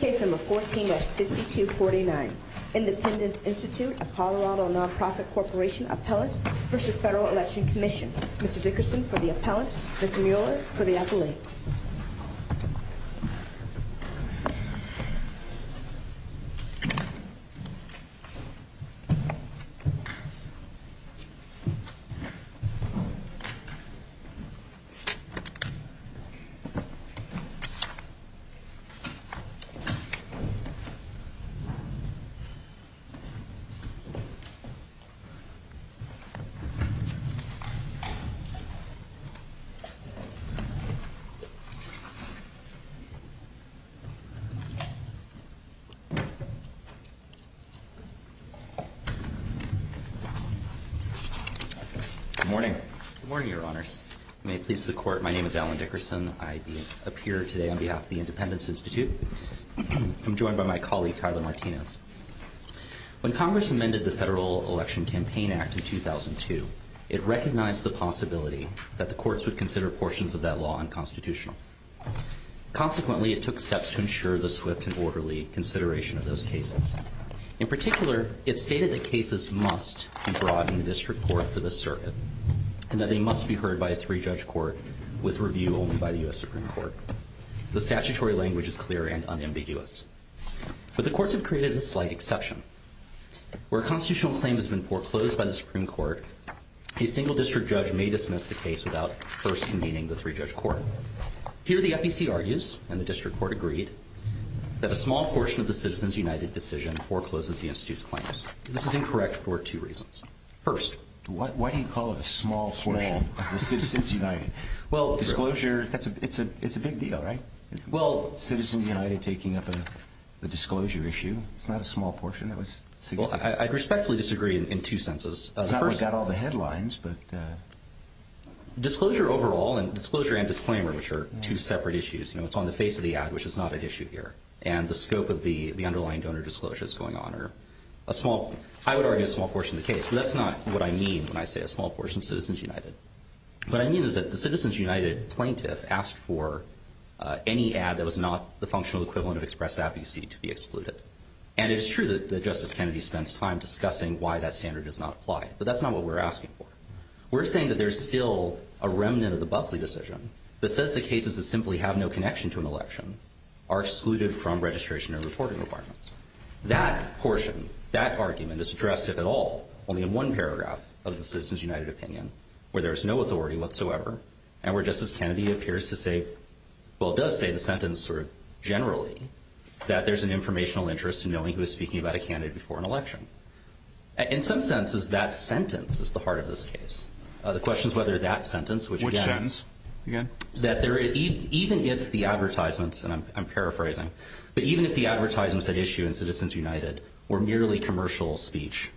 Case No. 14-6249, Independence Institute of Colorado Nonprofit Corporation Appellant v. Federal Election Commission. Mr. Dickerson for the appellant, Mr. Mueller for the appellate. Good morning. Good morning, your honors. May it please the court, my name is Alan Dickerson. I appear today on behalf of the Independence Institute. I'm joined by my colleague, Tyler Martinez. When Congress amended the Federal Election Campaign Act in 2002, it recognized the possibility that the courts would consider portions of that law unconstitutional. Consequently, it took steps to ensure the swift and orderly consideration of those cases. In particular, it stated that cases must be brought in the district court for the circuit, and that they must be heard by a three-judge court with review only by the U.S. Supreme Court. The statutory language is clear and unambiguous. But the courts have created a slight exception. Where a constitutional claim has been foreclosed by the Supreme Court, a single district judge may dismiss the case without first convening the three-judge court. Here, the FEC argues, and the district court agreed, that a small portion of the Citizens United decision forecloses the Institute's claims. This is incorrect for two reasons. First, Why do you call it a small portion of the Citizens United? Well, Disclosure, it's a big deal, right? Well, Citizens United taking up a disclosure issue. It's not a small portion, that was significant. Well, I respectfully disagree in two senses. It's not what got all the headlines, but Disclosure overall, and disclosure and disclaimer, which are two separate issues, you know, it's on the face of the ad, which is not an issue here. And the scope of the underlying donor disclosure that's going on are a small, I would argue a small portion of the case. But that's not what I mean when I say a small portion of Citizens United. What I mean is that the Citizens United plaintiff asked for any ad that was not the functional equivalent of express advocacy to be excluded. And it is true that Justice Kennedy spends time discussing why that standard does not apply. But that's not what we're asking for. We're saying that there's still a remnant of the Buckley decision that says the cases that simply have no connection to an election are excluded from registration and reporting requirements. That portion, that argument, is addressed, if at all, only in one paragraph of the Citizens United opinion, where there's no authority whatsoever, and where Justice Kennedy appears to say, well, does say the sentence sort of generally, that there's an informational interest in knowing who is speaking about a candidate before an election. In some senses, that sentence is the heart of this case. The question is whether that sentence, which again- Which sentence, again? That even if the advertisements, and I'm paraphrasing, but even if the advertisements that issue in Citizens United were merely commercial speech,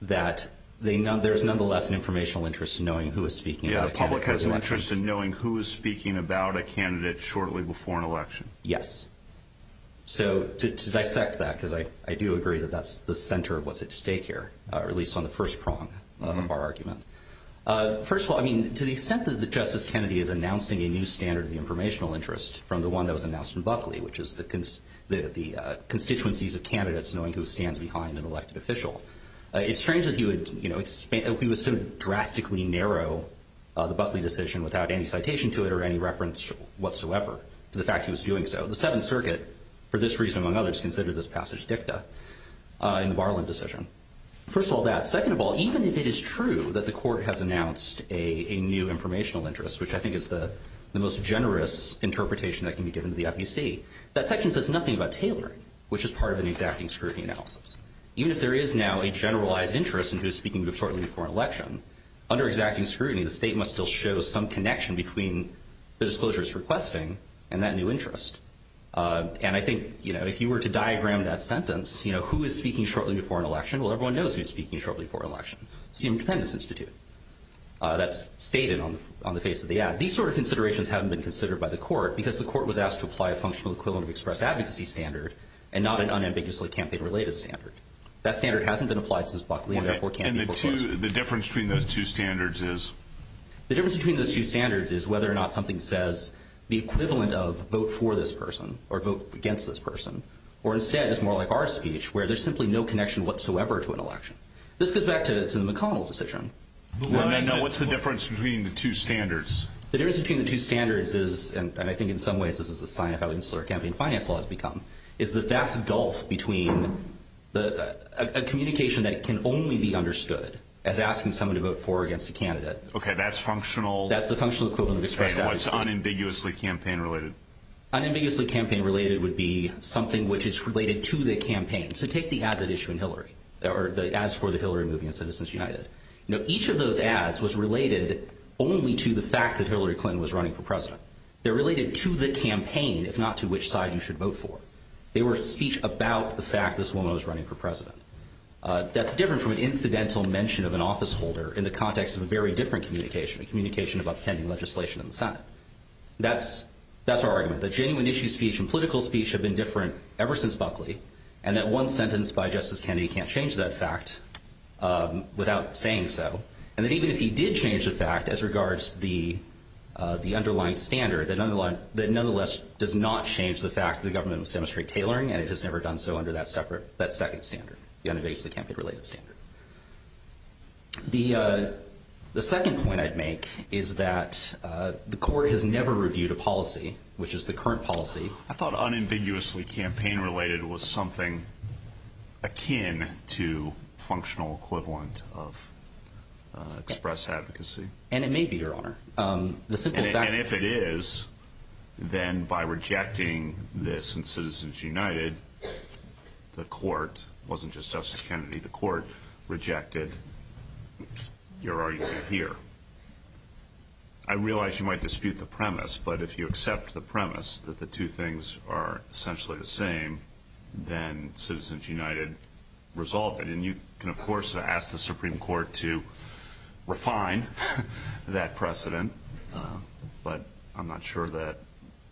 that there's nonetheless an informational interest in knowing who is speaking about a candidate- Yeah, the public has an interest in knowing who is speaking about a candidate shortly before an election. Yes. So, to dissect that, because I do agree that that's the center of what's at stake here, or at least on the first prong of our argument. First of all, I mean, to the extent that Justice Kennedy is announcing a new standard of the informational interest from the one that was announced in Buckley, which is the constituencies of candidates knowing who stands behind an elected official, it's strange that he would sort of drastically narrow the Buckley decision without any citation to it or any reference whatsoever to the fact he was doing so. The Seventh Circuit, for this reason among others, considered this passage dicta in the Barland decision. First of all, that. Second of all, even if it is true that the Court has announced a new informational interest, which I think is the most generous interpretation that can be given to the FEC, that section says nothing about tailoring, which is part of an exacting scrutiny analysis. Even if there is now a generalized interest in who is speaking before an election, under exacting scrutiny, the state must still show some connection between the disclosures requesting and that new interest. And I think, you know, if you were to diagram that sentence, you know, who is speaking shortly before an election, well, everyone knows who is speaking shortly before an election. It's the Independence Institute. That's stated on the face of the ad. These sort of considerations haven't been considered by the Court, because the Court was asked to apply a functional equivalent of express advocacy standard and not an unambiguously campaign-related standard. That standard hasn't been applied since Buckley, and therefore can't be proposed. The difference between those two standards is? The difference between those two standards is whether or not something says the equivalent of vote for this person or vote against this person, or instead is more like our speech, where there's simply no connection whatsoever to an election. This goes back to the McConnell decision. No, what's the difference between the two standards? The difference between the two standards is, and I think in some ways this is a sign of how insular campaign finance law has become, is the vast gulf between a communication that can only be understood as asking someone to vote for or against a candidate. Okay, that's functional. That's the functional equivalent of express advocacy. Okay, and what's unambiguously campaign-related? Unambiguously campaign-related would be something which is related to the campaign. So take the ads at issue in Hillary, or the ads for the Hillary movie in Citizens United. Now, each of those ads was related only to the fact that Hillary Clinton was running for president. They're related to the campaign, if not to which side you should vote for. They were speech about the fact this woman was running for president. That's different from an incidental mention of an officeholder in the context of a very different communication, a communication about pending legislation in the Senate. That's our argument, that genuine issue speech and political speech have been different ever since Buckley, and that one sentence by Justice Kennedy can't change that fact without saying so, and that even if he did change the fact as regards the underlying standard, that nonetheless does not change the fact that the government was demonstrating tailoring, and it has never done so under that second standard, the unambiguously campaign-related standard. The second point I'd make is that the court has never reviewed a policy, which is the current policy. I thought unambiguously campaign-related was something akin to functional equivalent of express advocacy. And it may be, Your Honor. And if it is, then by rejecting this in Citizens United, the court wasn't just Justice Kennedy. The court rejected your argument here. I realize you might dispute the premise, but if you accept the premise that the two things are essentially the same, then Citizens United resolve it. And you can, of course, ask the Supreme Court to refine that precedent, but I'm not sure that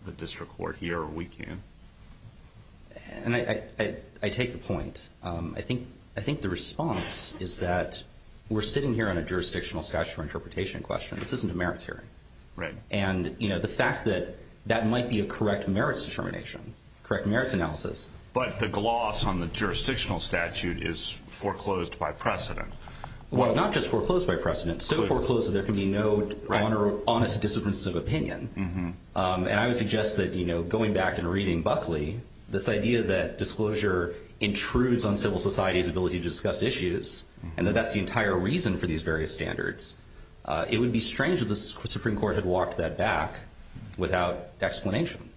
the district court here or we can. And I take the point. I think the response is that we're sitting here on a jurisdictional statute for interpretation question. This isn't a merits hearing. Right. And, you know, the fact that that might be a correct merits determination, correct merits analysis. But the gloss on the jurisdictional statute is foreclosed by precedent. Well, not just foreclosed by precedent, so foreclosed that there can be no honest disagreements of opinion. And I would suggest that, you know, going back and reading Buckley, this idea that disclosure intrudes on civil society's ability to discuss issues and that that's the entire reason for these various standards, it would be strange if the Supreme Court had walked that back without explanation.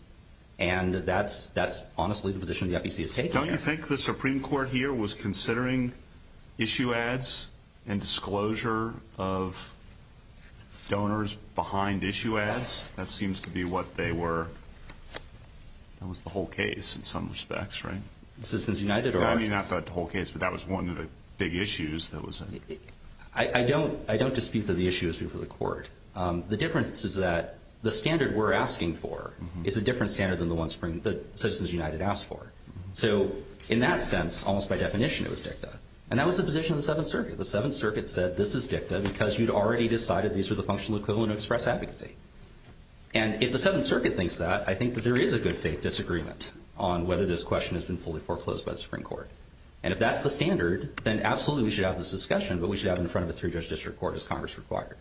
And that's honestly the position the FEC has taken. Don't you think the Supreme Court here was considering issue ads and disclosure of donors behind issue ads? That seems to be what they were. That was the whole case in some respects, right? Citizens United are. I mean, not the whole case, but that was one of the big issues that was. I don't dispute that the issue is for the court. The difference is that the standard we're asking for is a different standard than the one Citizens United asked for. So in that sense, almost by definition, it was DICTA. And that was the position of the Seventh Circuit. The Seventh Circuit said this is DICTA because you'd already decided these were the functional equivalent of express advocacy. And if the Seventh Circuit thinks that, I think that there is a good faith disagreement on whether this question has been fully foreclosed by the Supreme Court. And if that's the standard, then absolutely we should have this discussion, but we should have it in front of a three-judge district court as Congress required.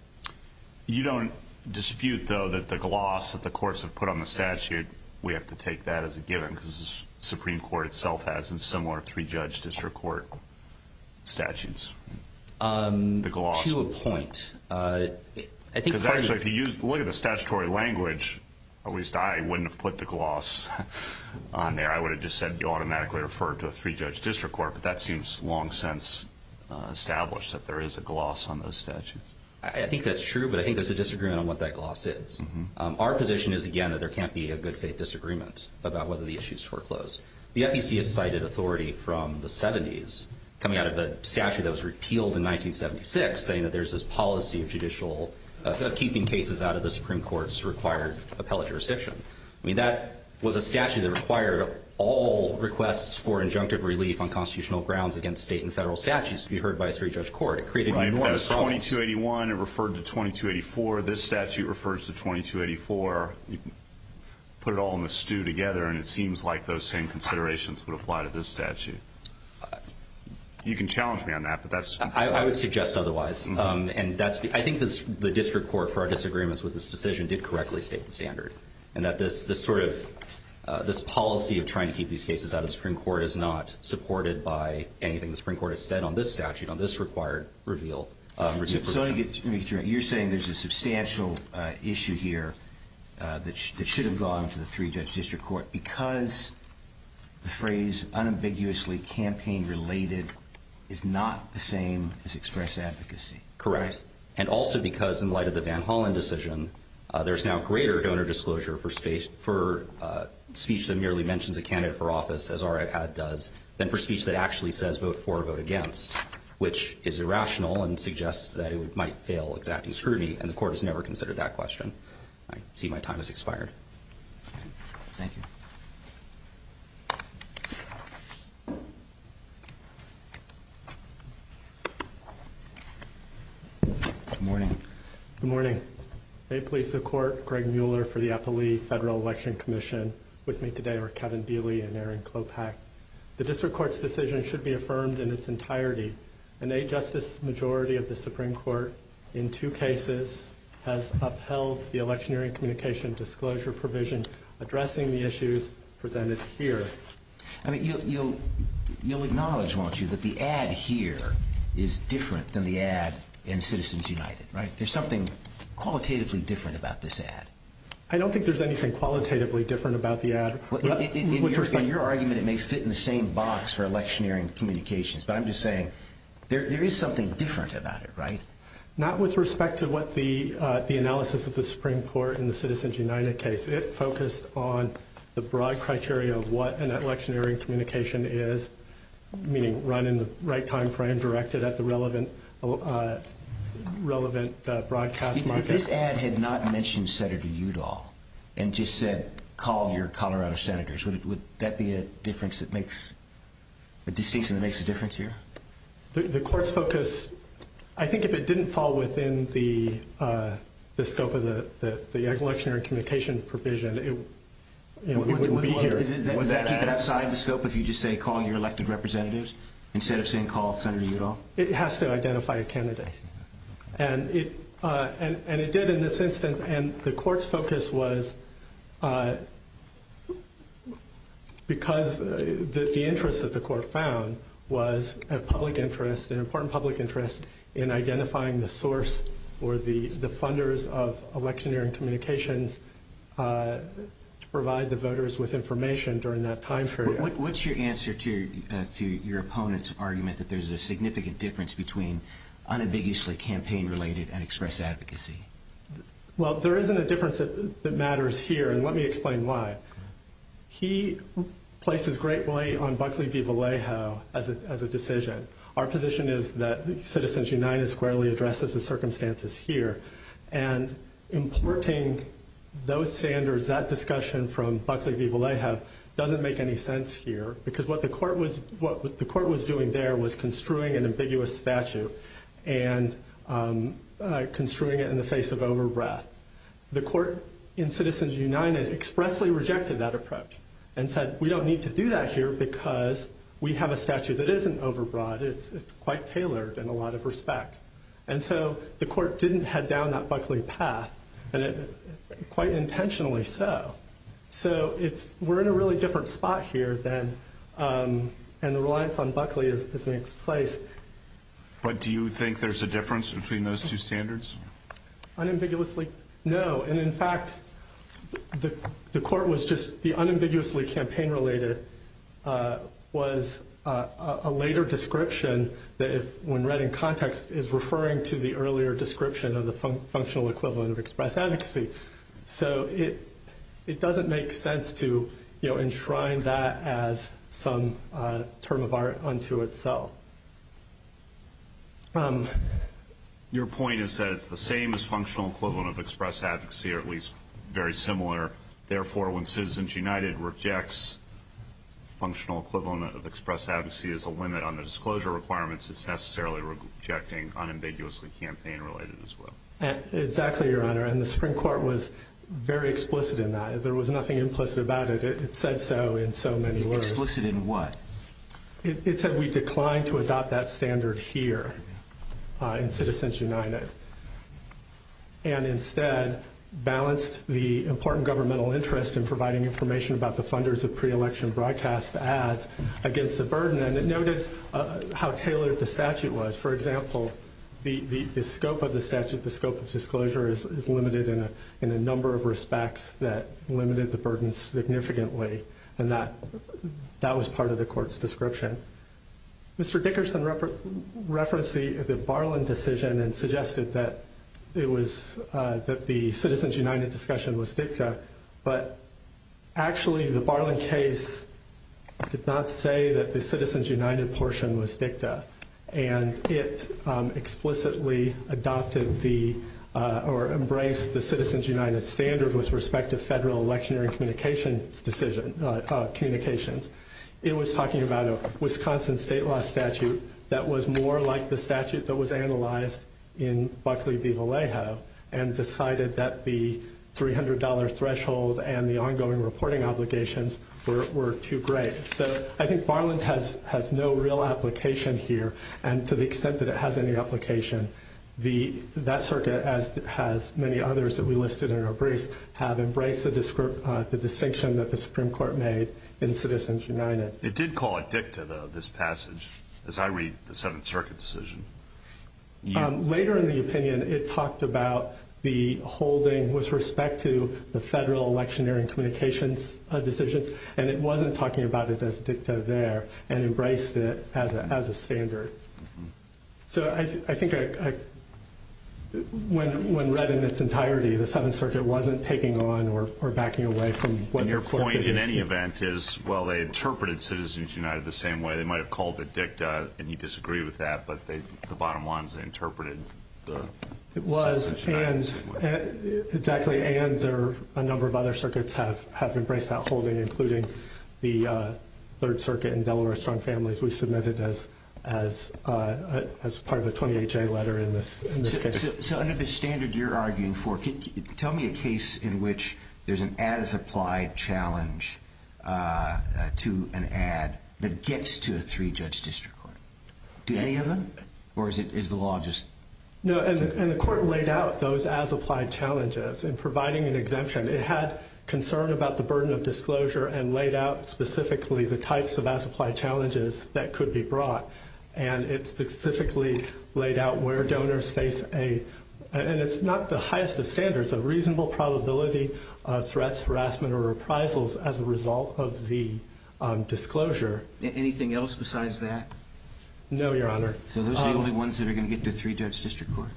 You don't dispute, though, that the gloss that the courts have put on the statute, we have to take that as a given because the Supreme Court itself has similar three-judge district court statutes. To a point. Because actually, if you look at the statutory language, at least I wouldn't have put the gloss on there. I would have just said you automatically refer to a three-judge district court, but that seems long since established that there is a gloss on those statutes. I think that's true, but I think there's a disagreement on what that gloss is. Our position is, again, that there can't be a good faith disagreement about whether the issue is foreclosed. The FEC has cited authority from the 70s coming out of a statute that was repealed in 1976 saying that there's this policy of keeping cases out of the Supreme Court's required appellate jurisdiction. I mean, that was a statute that required all requests for injunctive relief on constitutional grounds against state and federal statutes to be heard by a three-judge court. It created enormous problems. That was 2281. It referred to 2284. This statute refers to 2284. Put it all in a stew together, and it seems like those same considerations would apply to this statute. You can challenge me on that, but that's... I would suggest otherwise. I think the district court, for our disagreements with this decision, did correctly state the standard and that this policy of trying to keep these cases out of the Supreme Court is not supported by anything the Supreme Court has said on this statute, on this required reveal. So you're saying there's a substantial issue here that should have gone to the three-judge district court because the phrase unambiguously campaign-related is not the same as express advocacy. Correct. And also because in light of the Van Hollen decision, there's now greater donor disclosure for speech that merely mentions a candidate for office, as R.I.P. had does, than for speech that actually says vote for or vote against, which is irrational and suggests that it might fail exacting scrutiny, and the court has never considered that question. I see my time has expired. Thank you. Good morning. Good morning. May it please the Court, Greg Mueller for the Eppley Federal Election Commission. With me today are Kevin Beley and Erin Klopach. The district court's decision should be affirmed in its entirety. An eight-justice majority of the Supreme Court in two cases has upheld the electioneering communication disclosure provision addressing the issues presented here. I mean, you'll acknowledge, won't you, that the ad here is different than the ad in Citizens United, right? There's something qualitatively different about this ad. I don't think there's anything qualitatively different about the ad. In your argument, it may fit in the same box for electioneering communications, but I'm just saying there is something different about it, right? Not with respect to what the analysis of the Supreme Court in the Citizens United case. It focused on the broad criteria of what an electioneering communication is, meaning run in the right time frame, directed at the relevant broadcast market. If this ad had not mentioned Senator Udall and just said, call your Colorado senators, would that be a distinction that makes a difference here? The court's focus, I think if it didn't fall within the scope of the electioneering communication provision, it wouldn't be here. Was that outside the scope if you just say call your elected representatives instead of saying call Senator Udall? It has to identify a candidate, and it did in this instance, and the court's focus was because the interest that the court found was a public interest, an important public interest in identifying the source or the funders of electioneering communications to provide the voters with information during that time period. What's your answer to your opponent's argument that there's a significant difference between unambiguously campaign-related and express advocacy? Well, there isn't a difference that matters here, and let me explain why. He places great weight on Buckley v. Vallejo as a decision. Our position is that Citizens United squarely addresses the circumstances here, and importing those standards, that discussion from Buckley v. Vallejo doesn't make any sense here because what the court was doing there was construing an ambiguous statute and construing it in the face of over-breath. The court in Citizens United expressly rejected that approach and said we don't need to do that here because we have a statute that isn't over-broad. It's quite tailored in a lot of respects, and so the court didn't head down that Buckley path, and quite intentionally so. So we're in a really different spot here then, and the reliance on Buckley is in its place. But do you think there's a difference between those two standards? Unambiguously, no. And in fact, the court was just the unambiguously campaign-related was a later description that when read in context is referring to the earlier description of the functional equivalent of express advocacy. So it doesn't make sense to enshrine that as some term of art unto itself. Your point is that it's the same as functional equivalent of express advocacy, or at least very similar. Therefore, when Citizens United rejects functional equivalent of express advocacy as a limit on the disclosure requirements, it's necessarily rejecting unambiguously campaign-related as well. Exactly, Your Honor, and the Supreme Court was very explicit in that. There was nothing implicit about it. It said so in so many words. Explicit in what? It said we declined to adopt that standard here in Citizens United and instead balanced the important governmental interest in providing information about the funders of pre-election broadcast ads against the burden, and it noted how tailored the statute was. For example, the scope of the statute, the scope of disclosure is limited in a number of respects that limited the burden significantly, and that was part of the court's description. Mr. Dickerson referenced the Barlin decision and suggested that the Citizens United discussion was dicta, but actually the Barlin case did not say that the Citizens United portion was dicta, and it explicitly adopted or embraced the Citizens United standard with respect to federal electionary communications. It was talking about a Wisconsin state law statute that was more like the statute that was analyzed in Buckley v. Vallejo and decided that the $300 threshold and the ongoing reporting obligations were too great. So I think Barlin has no real application here, and to the extent that it has any application, that circuit, as has many others that we listed in our briefs, have embraced the distinction that the Supreme Court made in Citizens United. It did call it dicta, though, this passage, as I read the Seventh Circuit decision. Later in the opinion, it talked about the holding with respect to the federal electionary communications decisions, and it wasn't talking about it as dicta there and embraced it as a standard. So I think when read in its entirety, the Seventh Circuit wasn't taking on or backing away from what the court produced. And your point, in any event, is, well, they interpreted Citizens United the same way. They might have called it dicta, and you disagree with that, but the bottom line is they interpreted the Citizens United this way. It was, exactly, and a number of other circuits have embraced that holding, including the Third Circuit and Delaware Strong Families we submitted as part of a 28-J letter in this case. So under the standard you're arguing for, tell me a case in which there's an as-applied challenge to an ad that gets to a three-judge district court. Do any of them, or is the law just? No, and the court laid out those as-applied challenges. In providing an exemption, it had concern about the burden of disclosure and laid out specifically the types of as-applied challenges that could be brought, and it specifically laid out where donors face a, and it's not the highest of standards, a reasonable probability of threats, harassment, or reprisals as a result of the disclosure. Anything else besides that? No, Your Honor. So those are the only ones that are going to get to a three-judge district court?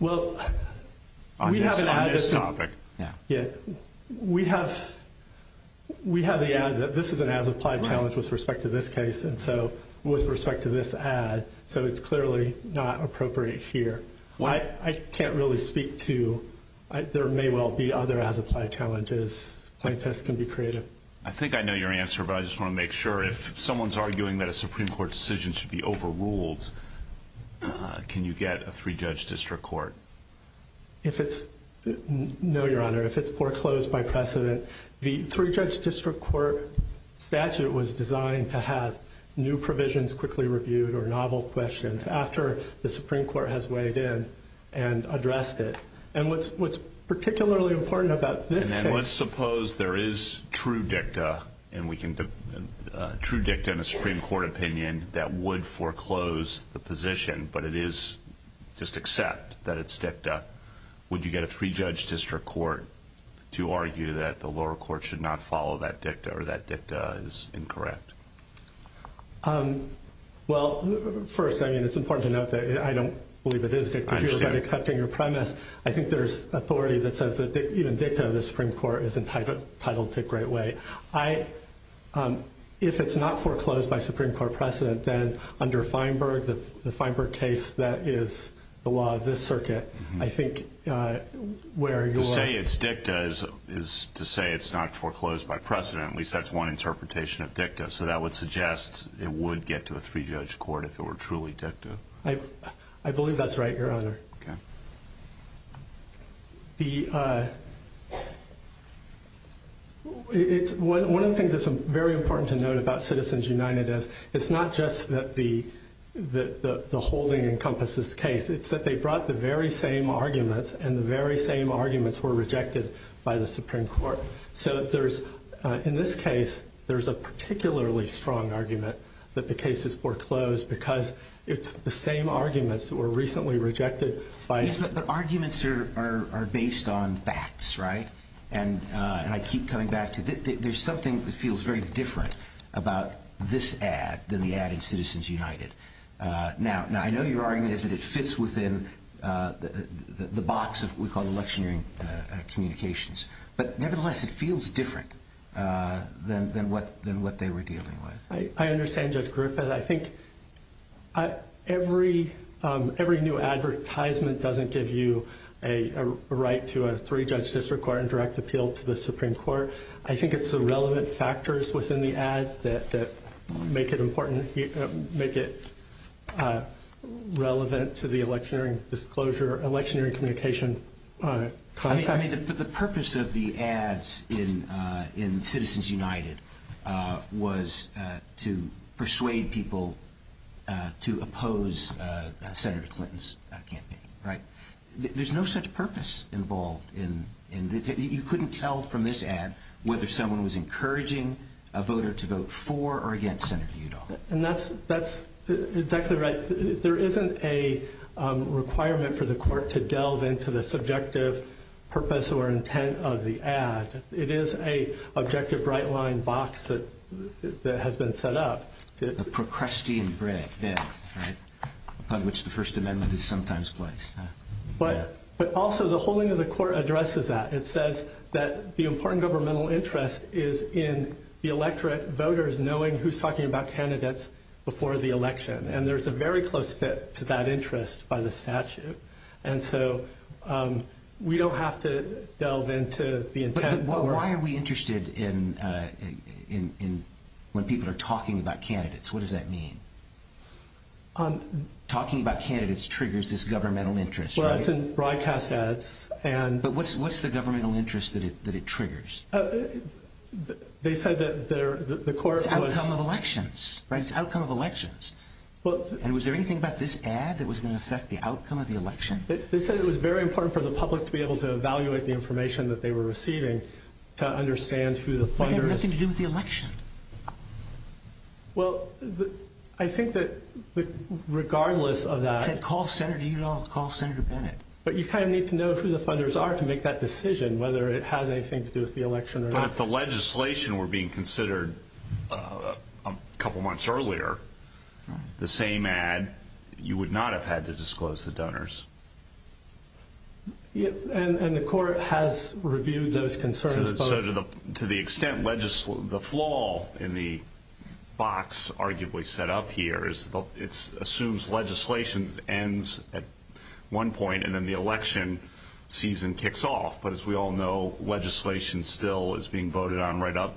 Well, we have an ad. On this topic. Yeah. We have the ad that this is an as-applied challenge with respect to this case, and so with respect to this ad, so it's clearly not appropriate here. I can't really speak to, there may well be other as-applied challenges. Plaintiffs can be creative. I think I know your answer, but I just want to make sure. If someone's arguing that a Supreme Court decision should be overruled, can you get a three-judge district court? No, Your Honor. If it's foreclosed by precedent, the three-judge district court statute was designed to have new provisions quickly reviewed or novel questions after the Supreme Court has weighed in and addressed it. And what's particularly important about this case. Let's suppose there is true dicta, and we can, true dicta in a Supreme Court opinion that would foreclose the position, but it is just accept that it's dicta. Would you get a three-judge district court to argue that the lower court should not follow that dicta or that dicta is incorrect? Well, first, I mean, it's important to note that I don't believe it is dicta. I understand. If you're accepting your premise, I think there's authority that says that even dicta of the Supreme Court is entitled to a great way. If it's not foreclosed by Supreme Court precedent, then under Feinberg, the Feinberg case that is the law of this circuit, I think where you are. To say it's dicta is to say it's not foreclosed by precedent. At least that's one interpretation of dicta. So that would suggest it would get to a three-judge court if it were truly dicta. I believe that's right, Your Honor. Okay. One of the things that's very important to note about Citizens United is it's not just that the holding encompasses case. It's that they brought the very same arguments, and the very same arguments were rejected by the Supreme Court. So in this case, there's a particularly strong argument that the case is foreclosed because it's the same arguments that were recently rejected by Yes, but arguments are based on facts, right? And I keep coming back to there's something that feels very different about this ad than the ad in Citizens United. Now, I know your argument is that it fits within the box of what we call electioneering communications. But nevertheless, it feels different than what they were dealing with. I understand, Judge Griffith. I think every new advertisement doesn't give you a right to a three-judge district court and direct appeal to the Supreme Court. I think it's the relevant factors within the ad that make it important, make it relevant to the electioneering disclosure, electioneering communication context. But the purpose of the ads in Citizens United was to persuade people to oppose Senator Clinton's campaign, right? There's no such purpose involved. You couldn't tell from this ad whether someone was encouraging a voter to vote for or against Senator Udall. And that's exactly right. But there isn't a requirement for the court to delve into the subjective purpose or intent of the ad. It is an objective right-line box that has been set up. A Procrustean grid, right, upon which the First Amendment is sometimes placed. But also, the whole thing of the court addresses that. It says that the important governmental interest is in the electorate voters knowing who's talking about candidates before the election. And there's a very close fit to that interest by the statute. And so we don't have to delve into the intent. But why are we interested in when people are talking about candidates? What does that mean? Talking about candidates triggers this governmental interest, right? Well, that's in broadcast ads. But what's the governmental interest that it triggers? They said that the court was— Right, it's outcome of elections. And was there anything about this ad that was going to affect the outcome of the election? They said it was very important for the public to be able to evaluate the information that they were receiving to understand who the funders— But that had nothing to do with the election. Well, I think that regardless of that— They said call Senator Udall, call Senator Bennett. But you kind of need to know who the funders are to make that decision, whether it has anything to do with the election or not. But if the legislation were being considered a couple months earlier, the same ad, you would not have had to disclose the donors. And the court has reviewed those concerns both— So to the extent the flaw in the box arguably set up here is it assumes legislation ends at one point and then the election season kicks off. But as we all know, legislation still is being voted on right up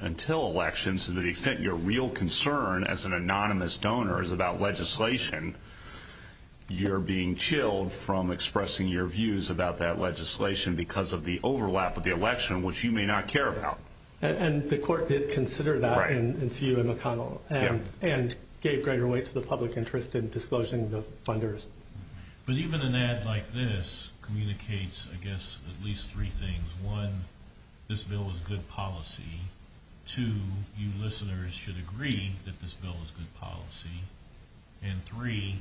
until elections. To the extent your real concern as an anonymous donor is about legislation, you're being chilled from expressing your views about that legislation because of the overlap of the election, which you may not care about. And the court did consider that in CUN McConnell and gave greater weight to the public interest in disclosing the funders. But even an ad like this communicates, I guess, at least three things. One, this bill is good policy. Two, you listeners should agree that this bill is good policy. And three,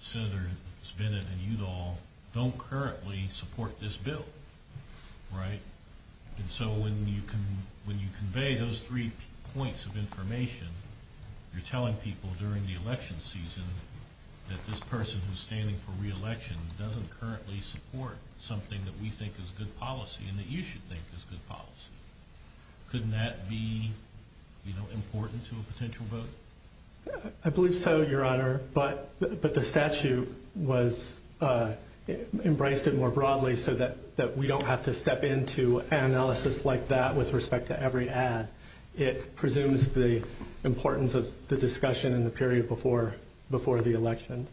Senators Bennett and Udall don't currently support this bill, right? And so when you convey those three points of information, you're telling people during the election season that this person who's standing for re-election doesn't currently support something that we think is good policy and that you should think is good policy. Couldn't that be important to a potential vote? I believe so, Your Honor, but the statute embraced it more broadly so that we don't have to step into an analysis like that with respect to every ad. It presumes the importance of the discussion in the period before the election.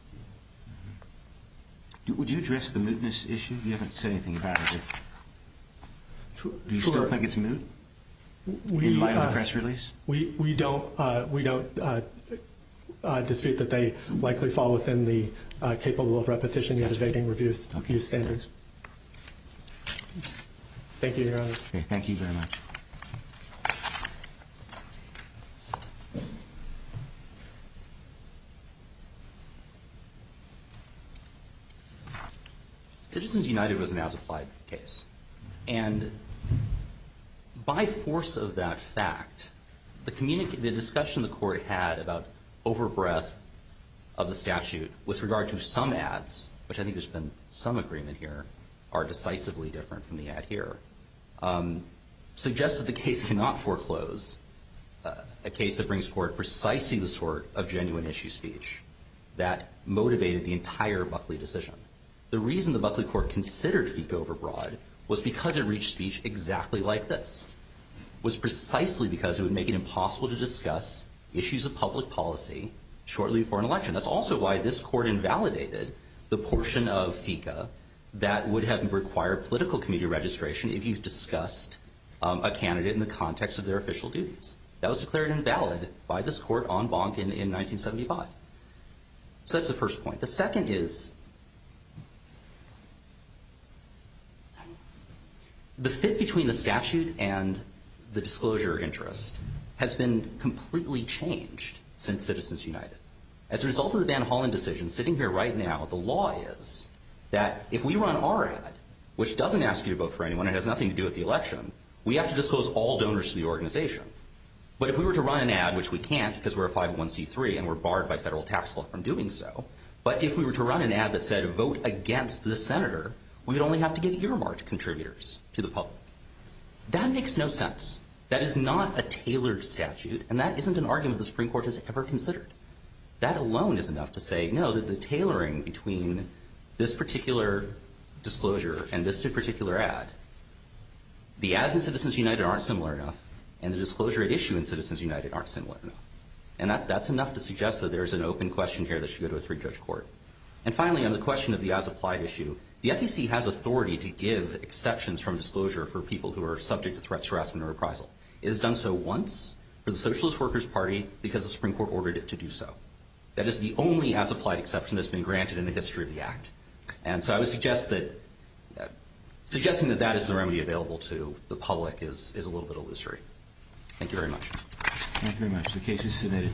Would you address the mootness issue? You haven't said anything about it. Do you still think it's moot in light of the press release? We don't dispute that they likely fall within the capable of repetition yet evading review standards. Thank you, Your Honor. Thank you very much. Citizens United was an as-applied case. And by force of that fact, the discussion the court had about over-breath of the statute with regard to some ads, which I think there's been some agreement here, are decisively different from the ad here, suggests that the case cannot foreclose a case that brings forth precisely the sort of genuine issue speech that motivated the entire Buckley decision. The reason the Buckley court considered FICA over-broad was because it reached speech exactly like this, was precisely because it would make it impossible to discuss issues of public policy shortly before an election. That's also why this court invalidated the portion of FICA that would have required political committee registration if you discussed a candidate in the context of their official duties. That was declared invalid by this court en banc in 1975. So that's the first point. The second is the fit between the statute and the disclosure interest has been completely changed since Citizens United. As a result of the Van Hollen decision, sitting here right now, the law is that if we run our ad, which doesn't ask you to vote for anyone, it has nothing to do with the election, we have to disclose all donors to the organization. But if we were to run an ad, which we can't because we're a 501c3 and we're barred by federal tax law from doing so, but if we were to run an ad that said vote against this senator, we would only have to give earmarked contributors to the public. That makes no sense. That is not a tailored statute, and that isn't an argument the Supreme Court has ever considered. That alone is enough to say, no, that the tailoring between this particular disclosure and this particular ad, the ads in Citizens United aren't similar enough, and the disclosure issue in Citizens United aren't similar enough. And that's enough to suggest that there's an open question here that should go to a three-judge court. And finally, on the question of the as-applied issue, the FEC has authority to give exceptions from disclosure for people who are subject to threats, harassment, or reprisal. It has done so once for the Socialist Workers Party because the Supreme Court ordered it to do so. That is the only as-applied exception that's been granted in the history of the act. And so I would suggest that suggesting that that is the remedy available to the public is a little bit illusory. Thank you very much. Thank you very much. The case is submitted.